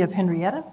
City of Henryetta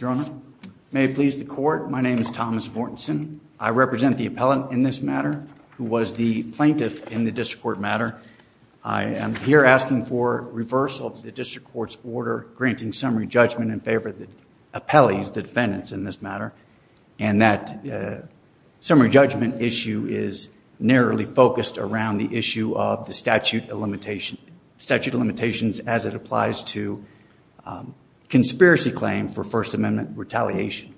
Your Honor, may it please the court, my name is Thomas Mortenson. I represent the appellant in this matter, who was the plaintiff in the district court matter. I am here asking for reversal of the district court's order granting summary judgment in favor of the appellees, as the defendants in this matter, and that summary judgment issue is narrowly focused around the issue of the statute of limitations as it applies to conspiracy claim for First Amendment retaliation.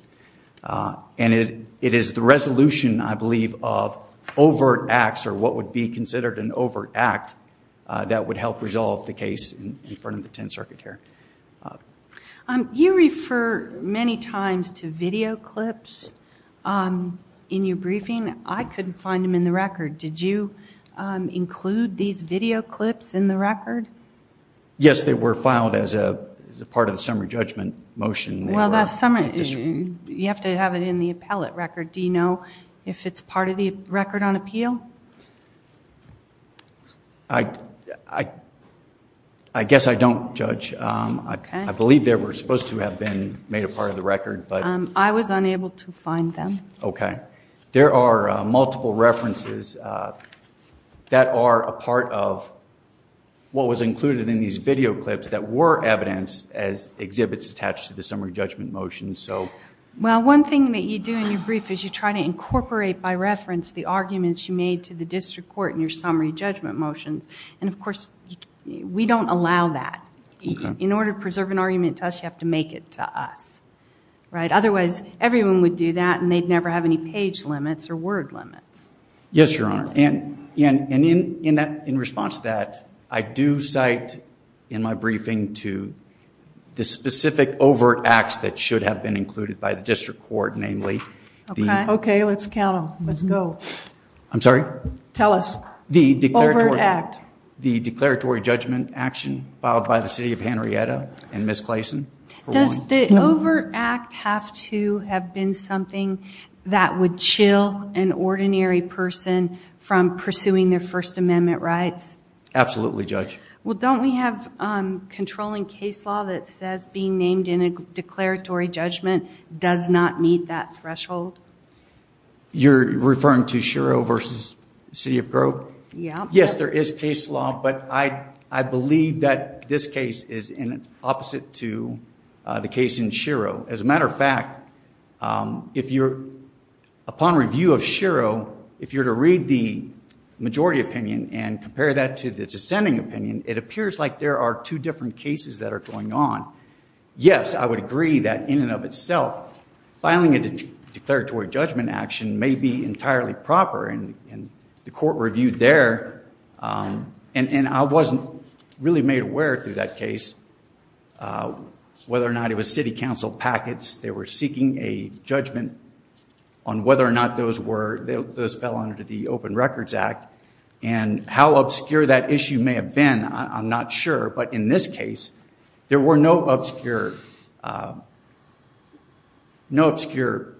And it is the resolution, I believe, of overt acts, or what would be considered an overt act, that would help resolve the case in front of the Tenth Circuit here. You refer many times to video clips in your briefing. I couldn't find them in the record. Did you include these video clips in the record? Yes, they were filed as a part of the summary judgment motion. Well, you have to have it in the appellate record. Do you know if it's I believe they were supposed to have been made a part of the record. I was unable to find them. Okay. There are multiple references that are a part of what was included in these video clips that were evidence as exhibits attached to the summary judgment motion. Well, one thing that you do in your brief is you try to incorporate by reference the arguments you made to the district court in your summary judgment motions. And of course, we don't allow that. In order to preserve an argument to us, you have to make it to us. Otherwise, everyone would do that and they'd never have any page limits or word limits. Yes, Your Honor. And in response to that, I do cite in my briefing to the specific overt acts that should have been included by the district court, namely. Okay, let's count them. Let's go. I'm sorry. Tell us. The overt act. The declaratory judgment action filed by the City of Henrietta and Ms. Clayson. Does the overt act have to have been something that would chill an ordinary person from pursuing their First Amendment rights? Absolutely, Judge. Well, don't we have controlling case law that says being named in a declaratory judgment does not meet that threshold? You're referring to Shiro versus City of Grove? Yeah. Yes, there is case law, but I believe that this case is in opposite to the case in Shiro. As a matter of fact, if you're upon review of Shiro, if you're to read the majority opinion and compare that to the dissenting opinion, it appears like there are two different cases that are going on. Yes, I would agree that in and of itself, filing a declaratory judgment action may be entirely proper, and the court reviewed there. And I wasn't really made aware through that case whether or not it was City Council packets. They were seeking a judgment on whether or not those were, those fell under the Open Records Act. And how obscure that issue may have been, I'm not sure. But in this case, there were no obscure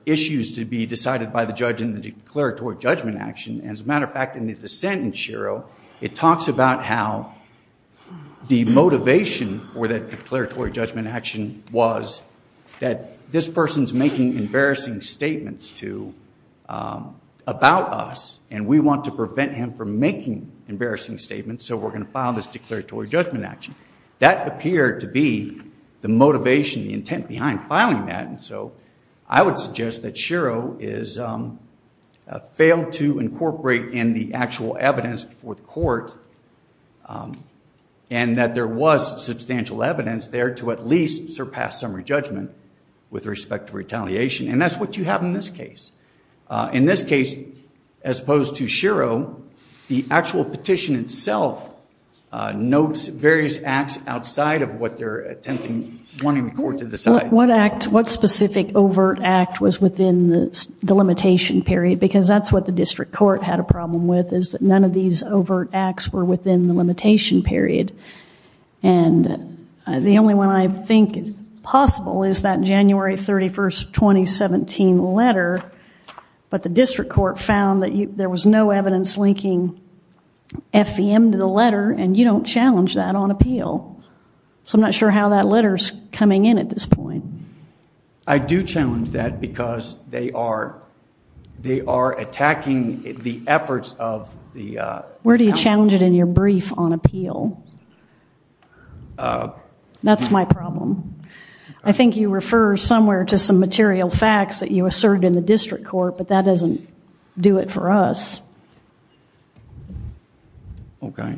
issues to be decided by the judge in the declaratory judgment action. As a matter of fact, in the dissent in Shiro, it talks about how the motivation for that declaratory judgment action was that this person's making embarrassing statements about us, and we want to prevent him from making embarrassing statements, so we're going to file this declaratory judgment action. That appeared to be the motivation, the intent behind filing that. And so I would suggest that Shiro failed to incorporate in the actual evidence before the court and that there was substantial evidence there to at least surpass summary judgment with respect to retaliation. And that's what you have in this case. In this case, as opposed to notes, various acts outside of what they're attempting, wanting the court to decide. What act, what specific overt act was within the limitation period? Because that's what the district court had a problem with, is that none of these overt acts were within the limitation period. And the only one I think is possible is that January 31st, 2017 letter. But the district court found that there was no evidence linking FVM to the letter, and you don't challenge that on appeal. So I'm not sure how that letter's coming in at this point. I do challenge that because they are attacking the efforts of the... Where do you challenge it in your brief on appeal? That's my problem. I think you refer somewhere to some material facts that you asserted in the do it for us. Okay.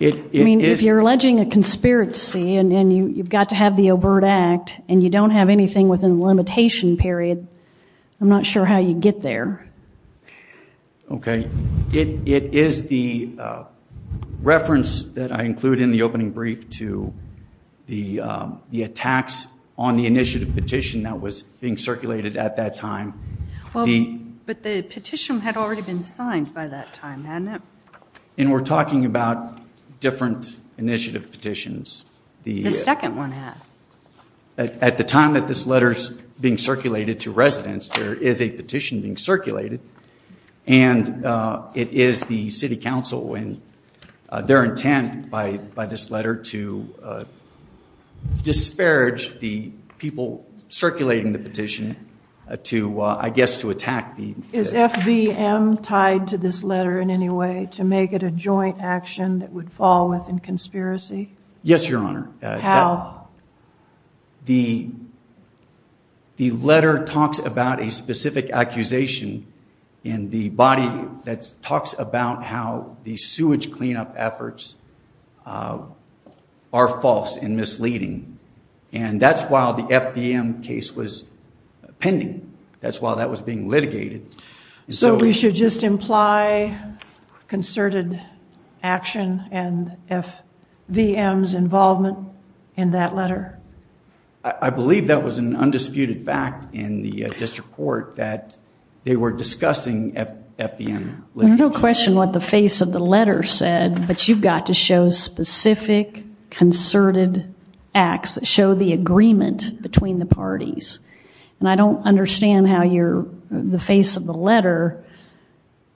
I mean, if you're alleging a conspiracy and you've got to have the overt act, and you don't have anything within the limitation period, I'm not sure how you get there. Okay. It is the reference that I include in the opening brief to the attacks on the But the petition had already been signed by that time, hadn't it? And we're talking about different initiative petitions. The second one had. At the time that this letter's being circulated to residents, there is a petition being circulated, and it is the city council and their intent by this letter to Is FVM tied to this letter in any way to make it a joint action that would fall within conspiracy? Yes, Your Honor. How? The letter talks about a specific accusation in the body that talks about how the sewage cleanup efforts are false and misleading. And that's why the FVM case was pending. That's why that was being litigated. So we should just imply concerted action and FVM's involvement in that letter? I believe that was an undisputed fact in the district court that they were discussing FVM. No question what the face of the letter said, but you've got to show specific concerted acts that show the agreement between the parties. And I don't understand how the face of the letter,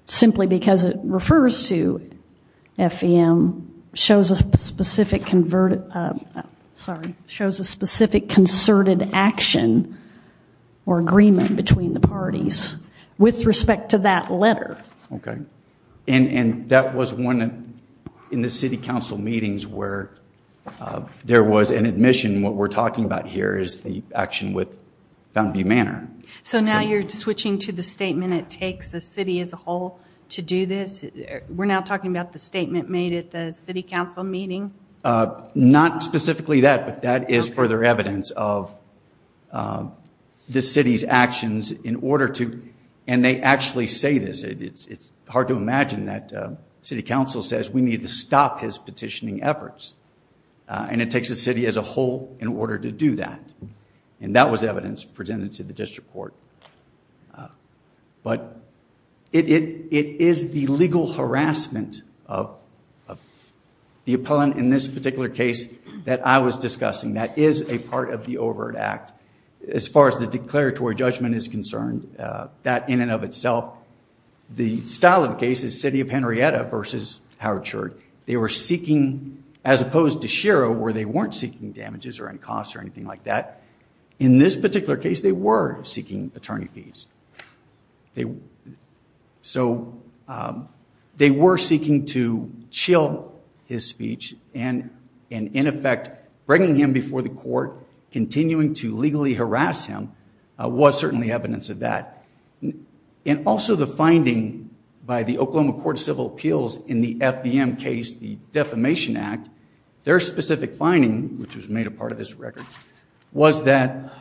simply because it refers to FVM, shows a specific converted, sorry, shows a specific concerted action or agreement between the parties with respect to that letter. Okay, and that was one in the city council meetings where there was an admission what we're talking about here is the action with FVM. So now you're switching to the statement it takes the city as a whole to do this. We're now talking about the statement made at the city council meeting. Not specifically that, but that is further evidence of the city's actions in order to, and they actually say this, it's hard to imagine that city council says we need to stop his petitioning efforts. And it takes the city as a whole in order to do that. And that was evidence presented to the district court. But it is the legal harassment of the appellant in this particular case that I was discussing that is a part of the overt act. As far as the declaratory judgment is concerned, that in and of itself, the style of the case is City of Henrietta versus Howard Church. They were seeking, as opposed to Shiro where they weren't seeking damages or any costs or anything like that. In this particular case, they were seeking attorney fees. So they were seeking to chill his speech and in effect, bringing him before the court, continuing to legally harass him, was certainly evidence of that. And also the finding by the Oklahoma Court of Civil Appeals in the FVM case, the Defamation Act, their specific finding, which was made a part of this record, was that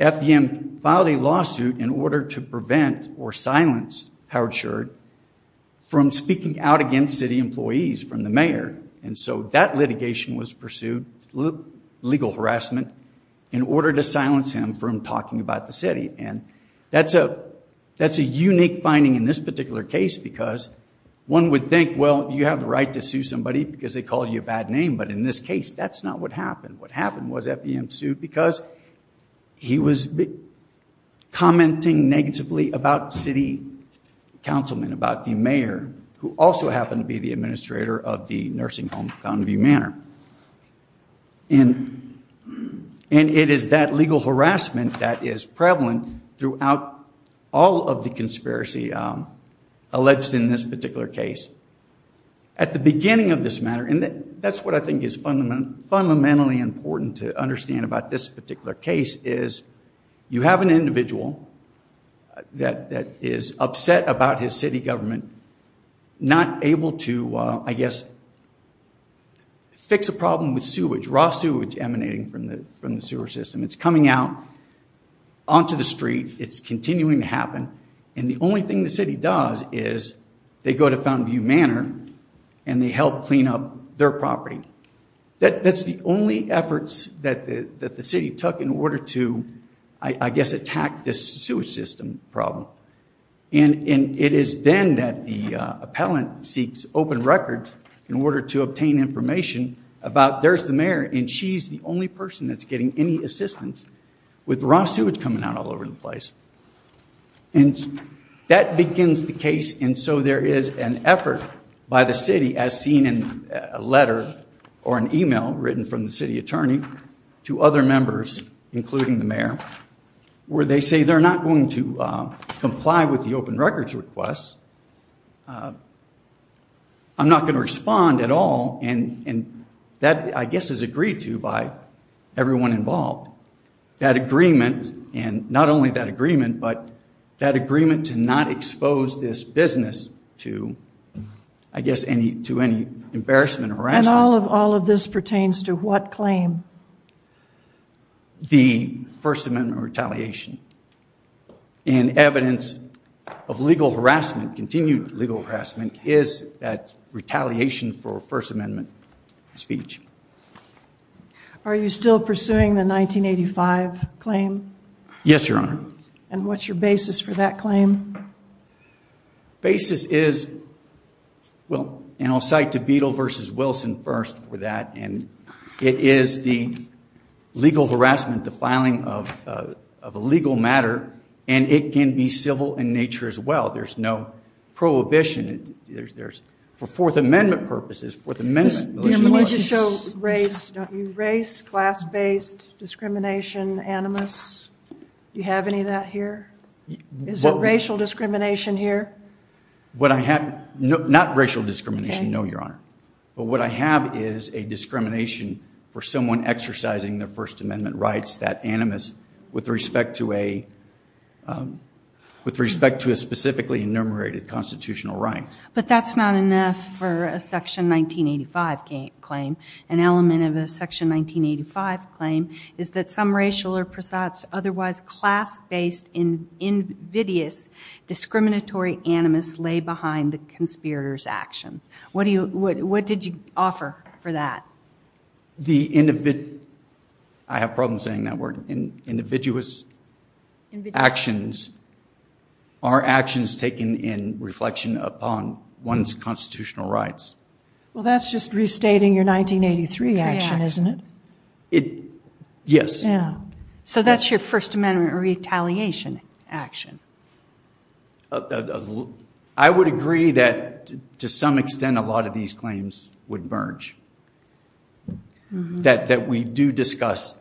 FVM filed a lawsuit in order to prevent or silence Howard Church from speaking out against city employees from the mayor. And so that litigation was pursued, legal harassment, in order to silence him from talking about the city. And that's a unique finding in this particular case because one would think, well, you have the right to sue somebody because they called you a bad name. But in this case, that's not what happened. What happened was FVM sued because he was commenting negatively about city councilmen, about the mayor, who also happened to be the administrator of the nursing home, Fountainview Manor. And it is that legal harassment that is prevalent throughout all of the conspiracy alleged in this particular case. At the beginning of this matter, and that's what I think is fundamentally important to understand about this particular case, is you have an individual that is upset about his city government not able to, I guess, fix a problem with sewage, raw sewage emanating from the sewer system. It's coming out onto the street. It's continuing to happen. And the only thing the And they help clean up their property. That's the only efforts that the city took in order to, I guess, attack this sewage system problem. And it is then that the appellant seeks open records in order to obtain information about, there's the mayor, and she's the only person that's getting any assistance with raw sewage coming out all over the place. And that begins the case. And so there is an effort by the city, as seen in a letter or an email written from the city attorney to other members, including the mayor, where they say they're not going to comply with the open records request. I'm not going to respond at all. And that, I guess, is agreed to by everyone involved. That agreement, and not only that agreement, but that agreement to not expose this business to, I guess, to any embarrassment or harassment. And all of this pertains to what claim? The First Amendment retaliation. And evidence of legal harassment, continued legal harassment, is that retaliation for First Amendment speech. Are you still pursuing the 1985 claim? Yes, Your Honor. And what's your basis for that claim? Basis is, well, and I'll cite to Beadle v. Wilson first for that, and it is the legal harassment, the filing of a legal matter, and it can be civil in nature as well. There's no prohibition. There's, for Fourth Amendment purposes, Fourth Amendment militias laws. Do your militias show race, don't you? Race, class-based discrimination, animus? Do you have any of that here? Is there racial discrimination here? What I have, not racial discrimination, no, Your Honor. But what I have is a discrimination for someone exercising their First Amendment rights, that animus, with respect to a, with respect to a specifically enumerated constitutional right. But that's not enough for a Section 1985 claim. An element of a Section 1985 claim is that some racial or otherwise class-based, invidious, discriminatory animus lay behind the conspirator's action. What do you, what did you offer for that? The, I have problems saying that word. Individuous actions are actions taken in reflection upon one's constitutional rights. Well, that's just restating your 1983 action, isn't it? It, yes. So that's your First Amendment retaliation action. I would agree that, to some extent, a lot of these claims would merge. That we do discuss.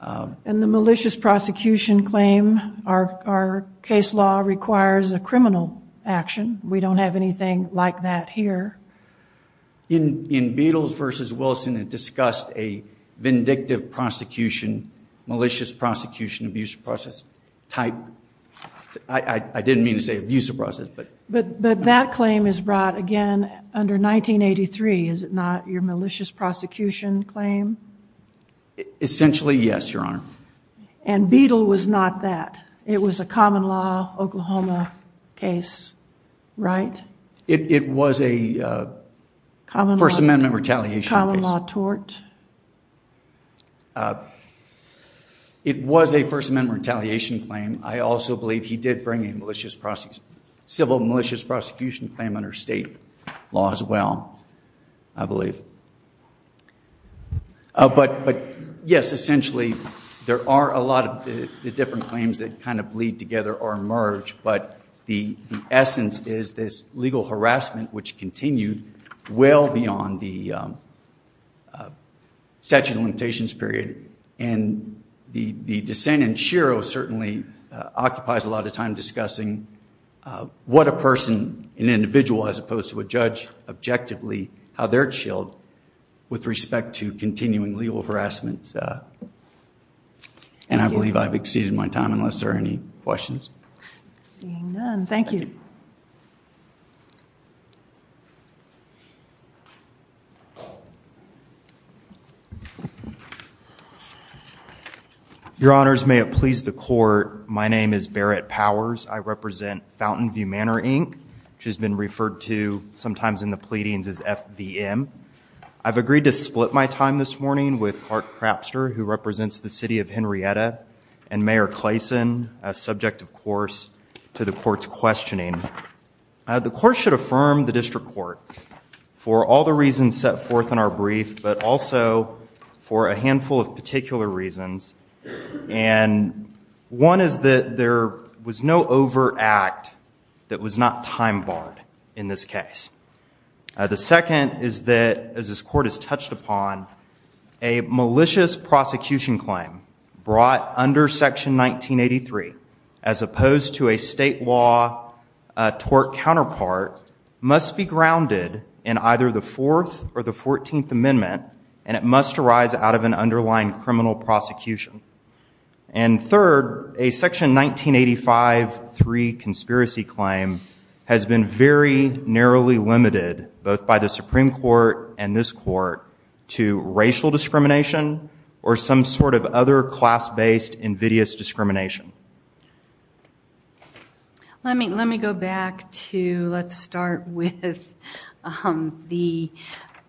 And the militias prosecution claim, our case law requires a criminal action. We don't have anything like that here. In, in Beatles versus Wilson, it discussed a vindictive prosecution, malicious prosecution, abuse of process type. I, I didn't mean to say abuse of process, but. But, but that claim is brought again under 1983, is it not? Your malicious prosecution claim? Essentially, yes, Your Honor. And Beatle was not that. It was a common law, Oklahoma case, right? It, it was a First Amendment retaliation case. Common law tort. It was a First Amendment retaliation claim. I also believe he did bring a malicious prosecution, civil malicious prosecution claim under state law as well, I believe. But, but yes, essentially, there are a lot of the different claims that kind of bleed together or legal harassment, which continued well beyond the statute of limitations period. And the, the dissent in Shiro certainly occupies a lot of time discussing what a person, an individual, as opposed to a judge, objectively, how they're chilled with respect to continuing legal harassment. And I believe I've exceeded my time, unless there are any questions. Seeing none, thank you. Your Honors, may it please the Court, my name is Barrett Powers. I represent Fountainview Manor, Inc., which has been referred to sometimes in the pleadings as FVM. I've agreed to split my time this morning with Clark Crapster, who represents the City of Henrietta, and Mayor Clayson, subject, of course, to the Court's questioning. The Court should affirm the District Court for all the reasons set forth in our brief, but also for a handful of particular reasons. And one is that there was no overact that was not time-barred in this case. The second is that, as this Court has touched upon, a malicious prosecution claim brought under Section 1983, as opposed to a state law tort counterpart, must be grounded in either the Fourth or the Fourteenth Amendment, and it must arise out of an underlying criminal prosecution. And third, a Section 1985-3 conspiracy claim has been very narrowly limited, both by the Supreme Court and this Court, to racial discrimination or some sort of other class-based invidious discrimination. Let me go back to, let's start with the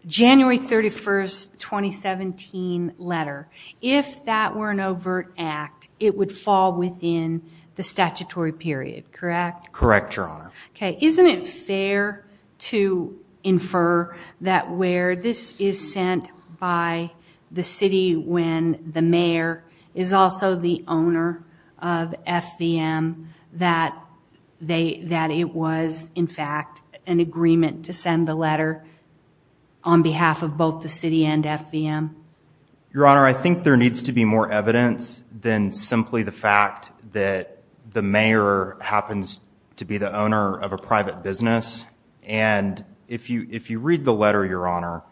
January 31st, 2017 letter. If that were an overt act, it would fall within the statutory period, correct? Correct, Your Honor. Okay. Isn't it fair to infer that where this is sent by the City, when the Mayor is also the owner of FVM, that it was, in fact, an agreement to send the letter on behalf of both the City and FVM? Your Honor, I think there needs to be more evidence than simply the fact that the Mayor happens to be the owner of a private business. And if you read the letter, Your Honor,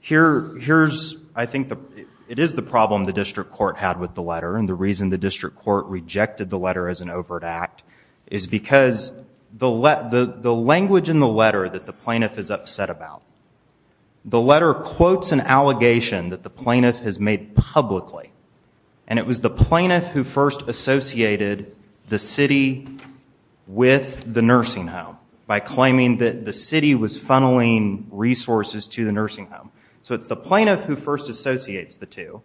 here's, I think, it is the problem the District Court had with the letter, and the reason the District Court rejected the letter as an overt act is because the language in the letter that the plaintiff is upset about. The letter quotes an allegation that the plaintiff has made publicly, and it was the plaintiff who first associated the City with the nursing home by claiming that the City was funneling resources to the nursing home. So it's the plaintiff who first associates the two,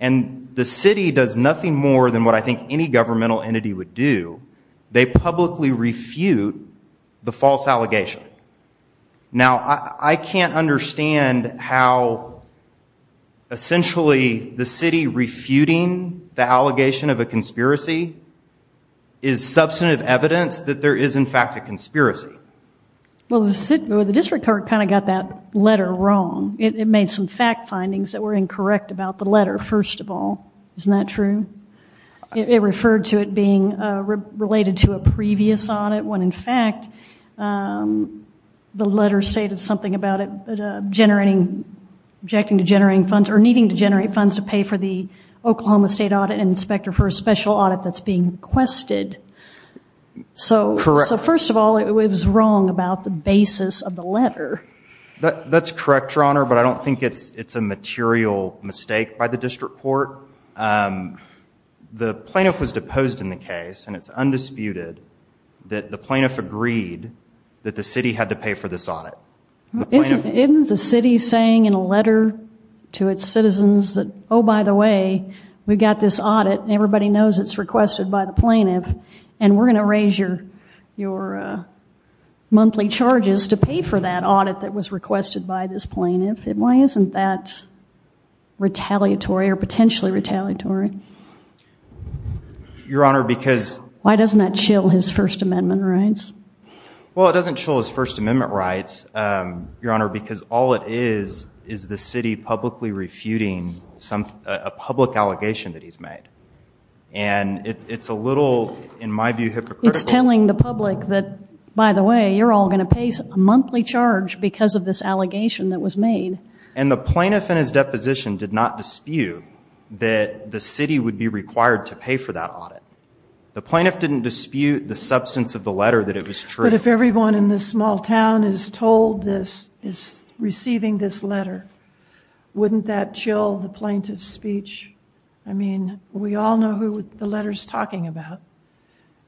and the City does nothing more than what I think any governmental entity would do. They publicly refute the false allegation. Now, I can't understand how, essentially, the City refuting the allegation of a conspiracy is substantive evidence that there is, in fact, a conspiracy. Well, the District Court kind of got that letter wrong. It made some fact findings that were incorrect about the letter, first of all. Isn't that true? It referred to it being related to a previous audit, when, in fact, the letter stated something about it generating, objecting to generating funds or needing to generate funds to pay for the Oklahoma State Audit Inspector for a special audit that's being requested. So first of all, it was wrong about the basis of the letter. That's correct, Your Honor, but I don't think it's a material mistake by the District Court. The plaintiff was deposed in the case, and it's undisputed that the plaintiff agreed that the City had to pay for this audit. Isn't the City saying in a letter to its citizens that, oh, by the way, we've got this audit, and everybody knows it's requested by the plaintiff, and we're going to raise your monthly charges to pay for that audit that was requested by this plaintiff? Why isn't that retaliatory or potentially retaliatory? Your Honor, because... Why doesn't that chill his First Amendment rights? Well, it doesn't chill his First Amendment rights, Your Honor, because all it is is the City publicly refuting a public allegation that he's made. And it's a little, in my view, hypocritical. It's telling the public that, by the way, you're all going to pay a monthly charge because of this allegation that was made. And the plaintiff in his deposition did not dispute that the City would be required to pay for that audit. The plaintiff didn't dispute the substance of the letter that it was true. But if everyone in this small town is told this, is receiving this letter, wouldn't that chill the plaintiff's speech? I mean, we all know who the letter's talking about.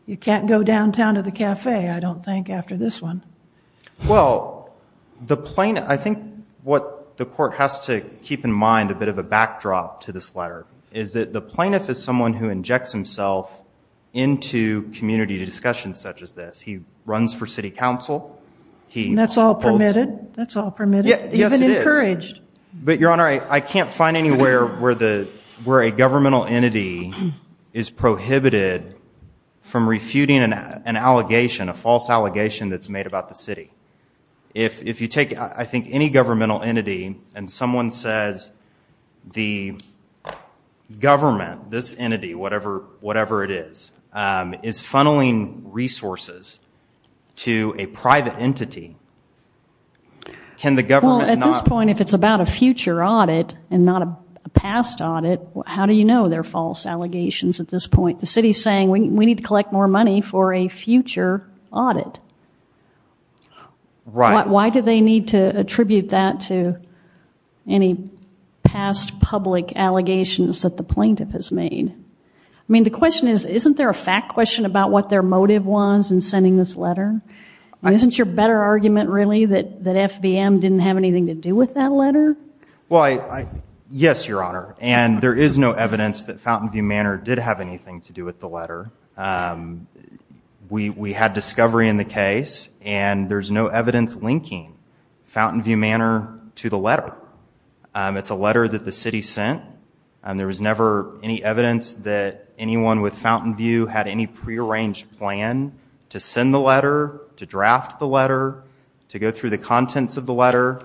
You can't go downtown to the cafe, I don't think, after this one. Well, the plaintiff... I think what the Court has to keep in mind, a bit of a backdrop to this letter, is that the plaintiff is someone who injects himself into community discussions such as this. He runs for City Council. And that's all permitted. That's all permitted. Even encouraged. But, Your Honor, I can't find anywhere where a governmental entity is prohibited from refuting an allegation, a false allegation that's made about the City. If you take, I think, any governmental entity and someone says, the government, this entity, whatever it is, is funneling resources to a private entity, can the government not... Well, at this point, if it's about a future audit and not a past audit, how do you know they're false allegations at this point? The City's saying, we need to collect more money for a future audit. Right. Why do they need to attribute that to any past public allegations that the plaintiff has made? I mean, the question is, isn't there a fact question about what their motive was in sending this letter? Isn't your better argument, really, that FBM didn't have anything to do with that letter? Well, yes, Your Honor. And there is no evidence that Fountainview Manor did have anything to do with the letter. We had discovery in the case and there's no evidence linking Fountainview Manor to the letter. It's a letter that the City sent. There was never any evidence that anyone with Fountainview had any prearranged plan to send the letter, to draft the letter, to go through the contents of the letter.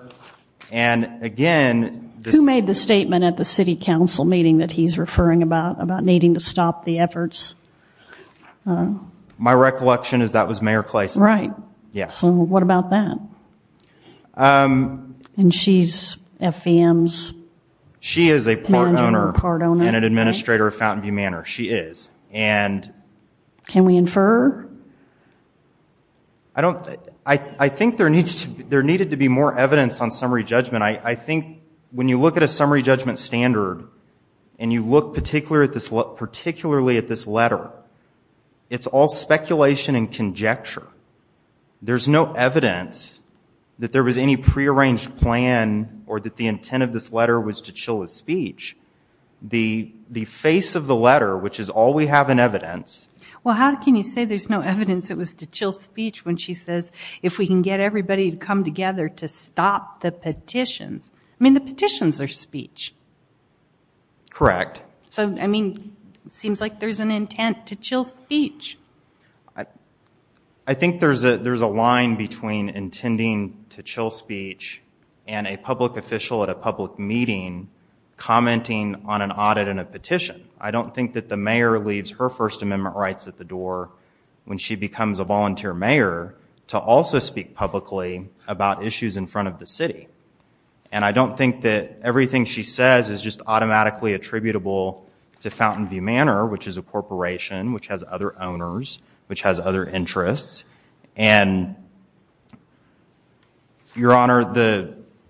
And again... Who made the statement at the City Council meeting that he's referring about, needing to stop the efforts? My recollection is that was Mayor Kleist. Right. Yes. What about that? And she's FBM's... She is a part owner and an administrator of Fountainview Manor. She is. And... Can we infer? I don't... I think there needs to be... There needed to be more evidence on summary judgment. I think when you look at a summary judgment standard and you look particularly at this letter, it's all speculation and conjecture. There's no evidence that there was any prearranged plan or that the intent of this letter was to chill his speech. The face of the letter, which is all we have in evidence... Well, how can you say there's no evidence it was to chill speech when she says if we can get everybody to come together to stop the petitions? I mean, the petitions are speech. Correct. So, I mean, it seems like there's an intent to chill speech. I think there's a line between intending to chill speech and a public official at a public meeting commenting on an audit and a petition. I don't think that the mayor leaves her First Amendment rights at the door when she becomes a volunteer mayor to also speak publicly about issues in front of the city. And I don't think that everything she says is just automatically attributable to Fountainview Manor, which is a corporation which has other owners, which has other interests. And, Your Honor,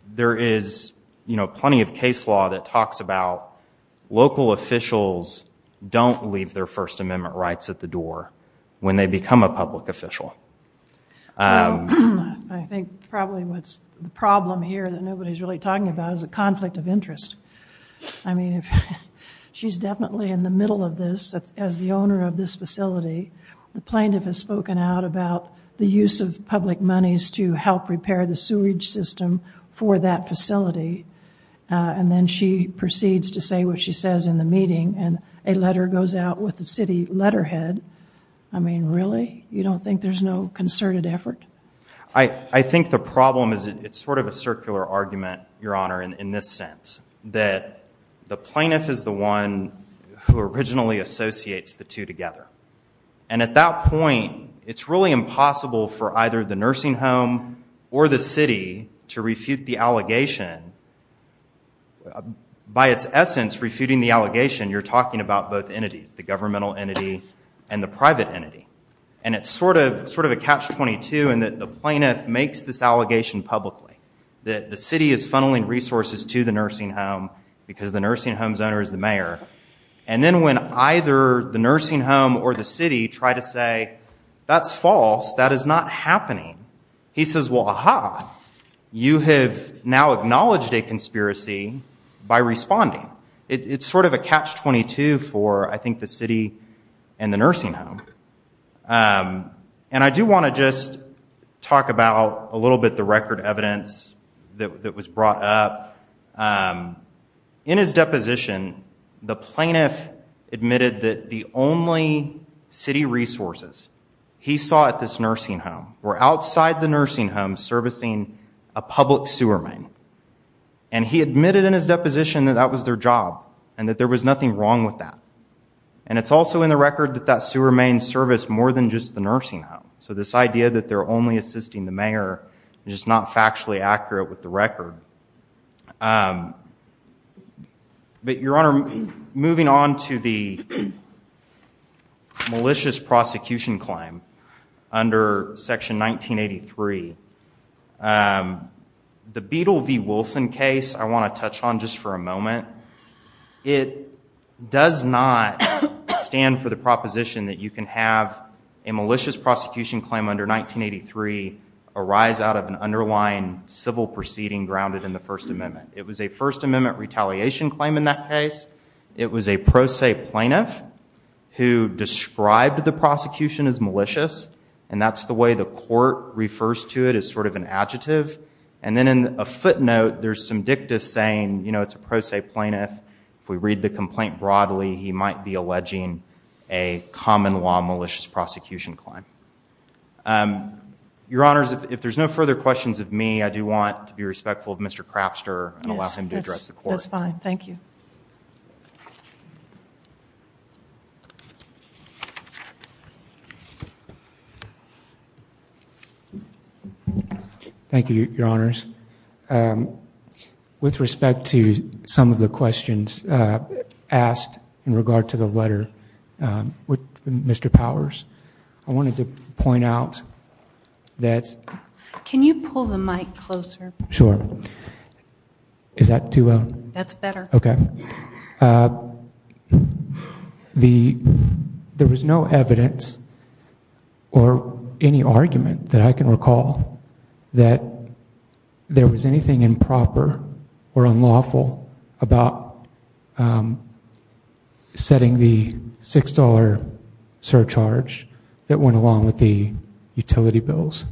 there is plenty of case law that talks about local officials don't leave their First Amendment rights at the door when they become a public official. Well, I think probably what's the problem here that nobody's really talking about is a conflict of interest. I mean, if she's definitely in the middle of this as the owner of this facility, the plaintiff has spoken out about the use of public monies to help repair the sewage system for that facility. And then she proceeds to say what she says in the meeting, and a letter goes out with the city letterhead. I mean, really? You don't think there's no concerted effort? I think the problem is it's sort of a circular argument, Your Honor, in this sense, that the plaintiff is the one who originally associates the two together. And at that point, it's really impossible for either the nursing home or the city to refute the allegation. By its essence, refuting the allegation, you're talking about both entities, the governmental entity and the private entity. And it's sort of a catch-22 in that the plaintiff makes this allegation publicly, that the city is funneling resources to the nursing home because the nursing home's owner is the mayor. And then when either the nursing home or the city try to say, that's false, that is not happening, he says, well, aha, you have now acknowledged a conspiracy by responding. It's sort of a catch-22 for, I think, the city and the nursing home. And I do want to just talk about a little bit the record evidence that was brought up. In his deposition, the plaintiff admitted that the only city resources he saw at this nursing home were outside the nursing home servicing a public sewer main. And he admitted in his deposition that that was their job and that there was nothing wrong with that. And it's also in the record that that sewer main serviced more than just the nursing home. So this idea that they're only assisting the mayor is just not factually accurate with the record. But, Your Honor, moving on to the malicious prosecution claim under Section 1983, the Beedle v. Wilson case I want to touch on just for a moment. It does not stand for the proposition that you can have a malicious prosecution claim under 1983 arise out of an underlying civil proceeding grounded in the First Amendment. It was a First Amendment retaliation claim in that case. It was a pro se plaintiff who described the prosecution as malicious. And that's the way the court refers to it as sort of an adjective. And then in a footnote, there's some dicta saying, you know, it's a pro se plaintiff. If we read the complaint broadly, he might be alleging a common law malicious prosecution claim. Your Honors, if there's no further questions of me, I do want to be respectful of Mr. Crapster and allow him to address the court. That's fine. Thank you. Thank you, Your Honors. With respect to some of the questions asked in regard to the letter with Mr. Powers, I wanted to point out that... Can you pull the mic closer? Sure. Is that too low? That's better. Okay. There was no evidence or any argument that I can recall that there was anything improper or unlawful about setting the $6 surcharge that went along with the utility bills.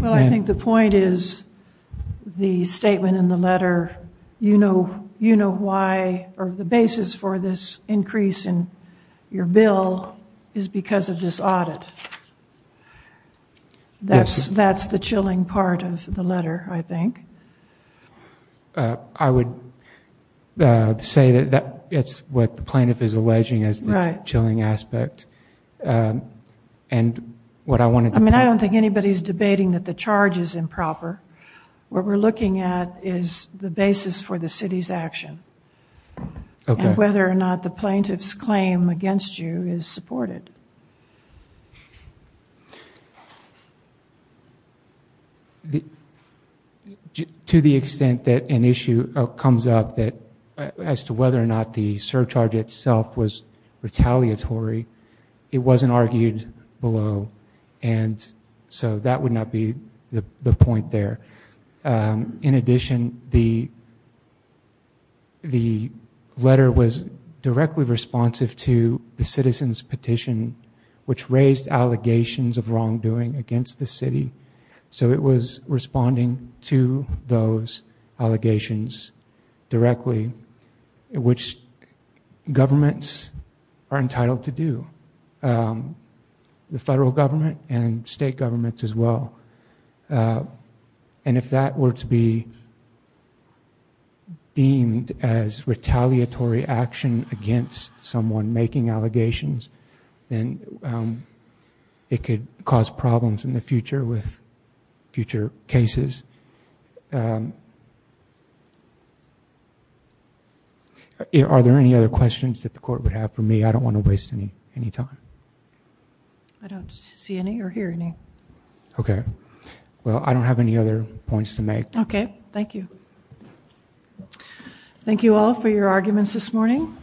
Well, I think the point is the statement in the letter, you know why or the basis for this increase in your bill is because of this audit. That's the chilling part of the letter, I think. I would say that it's what the plaintiff is alleging as the chilling aspect. I mean, I don't think anybody's debating that the charge is improper. What we're looking at is the basis for the city's action and whether or not the plaintiff's claim against you is supported. To the extent that an issue comes up as to whether or not the surcharge itself was retaliatory, it wasn't argued below. So that would not be the point there. In addition, the letter was directly responsive to the citizens petition, which raised allegations of wrongdoing against the city. So it was responding to those allegations directly, which governments are entitled to do. The federal government and state governments as well. If that were to be deemed as retaliatory action against someone making allegations, then it could cause problems in the future with future cases. Are there any other questions that the court would have for me? I don't want to waste any time. I don't see any or hear any. Okay. Well, I don't have any other points to make. Okay. Thank you. Thank you all for your arguments this morning.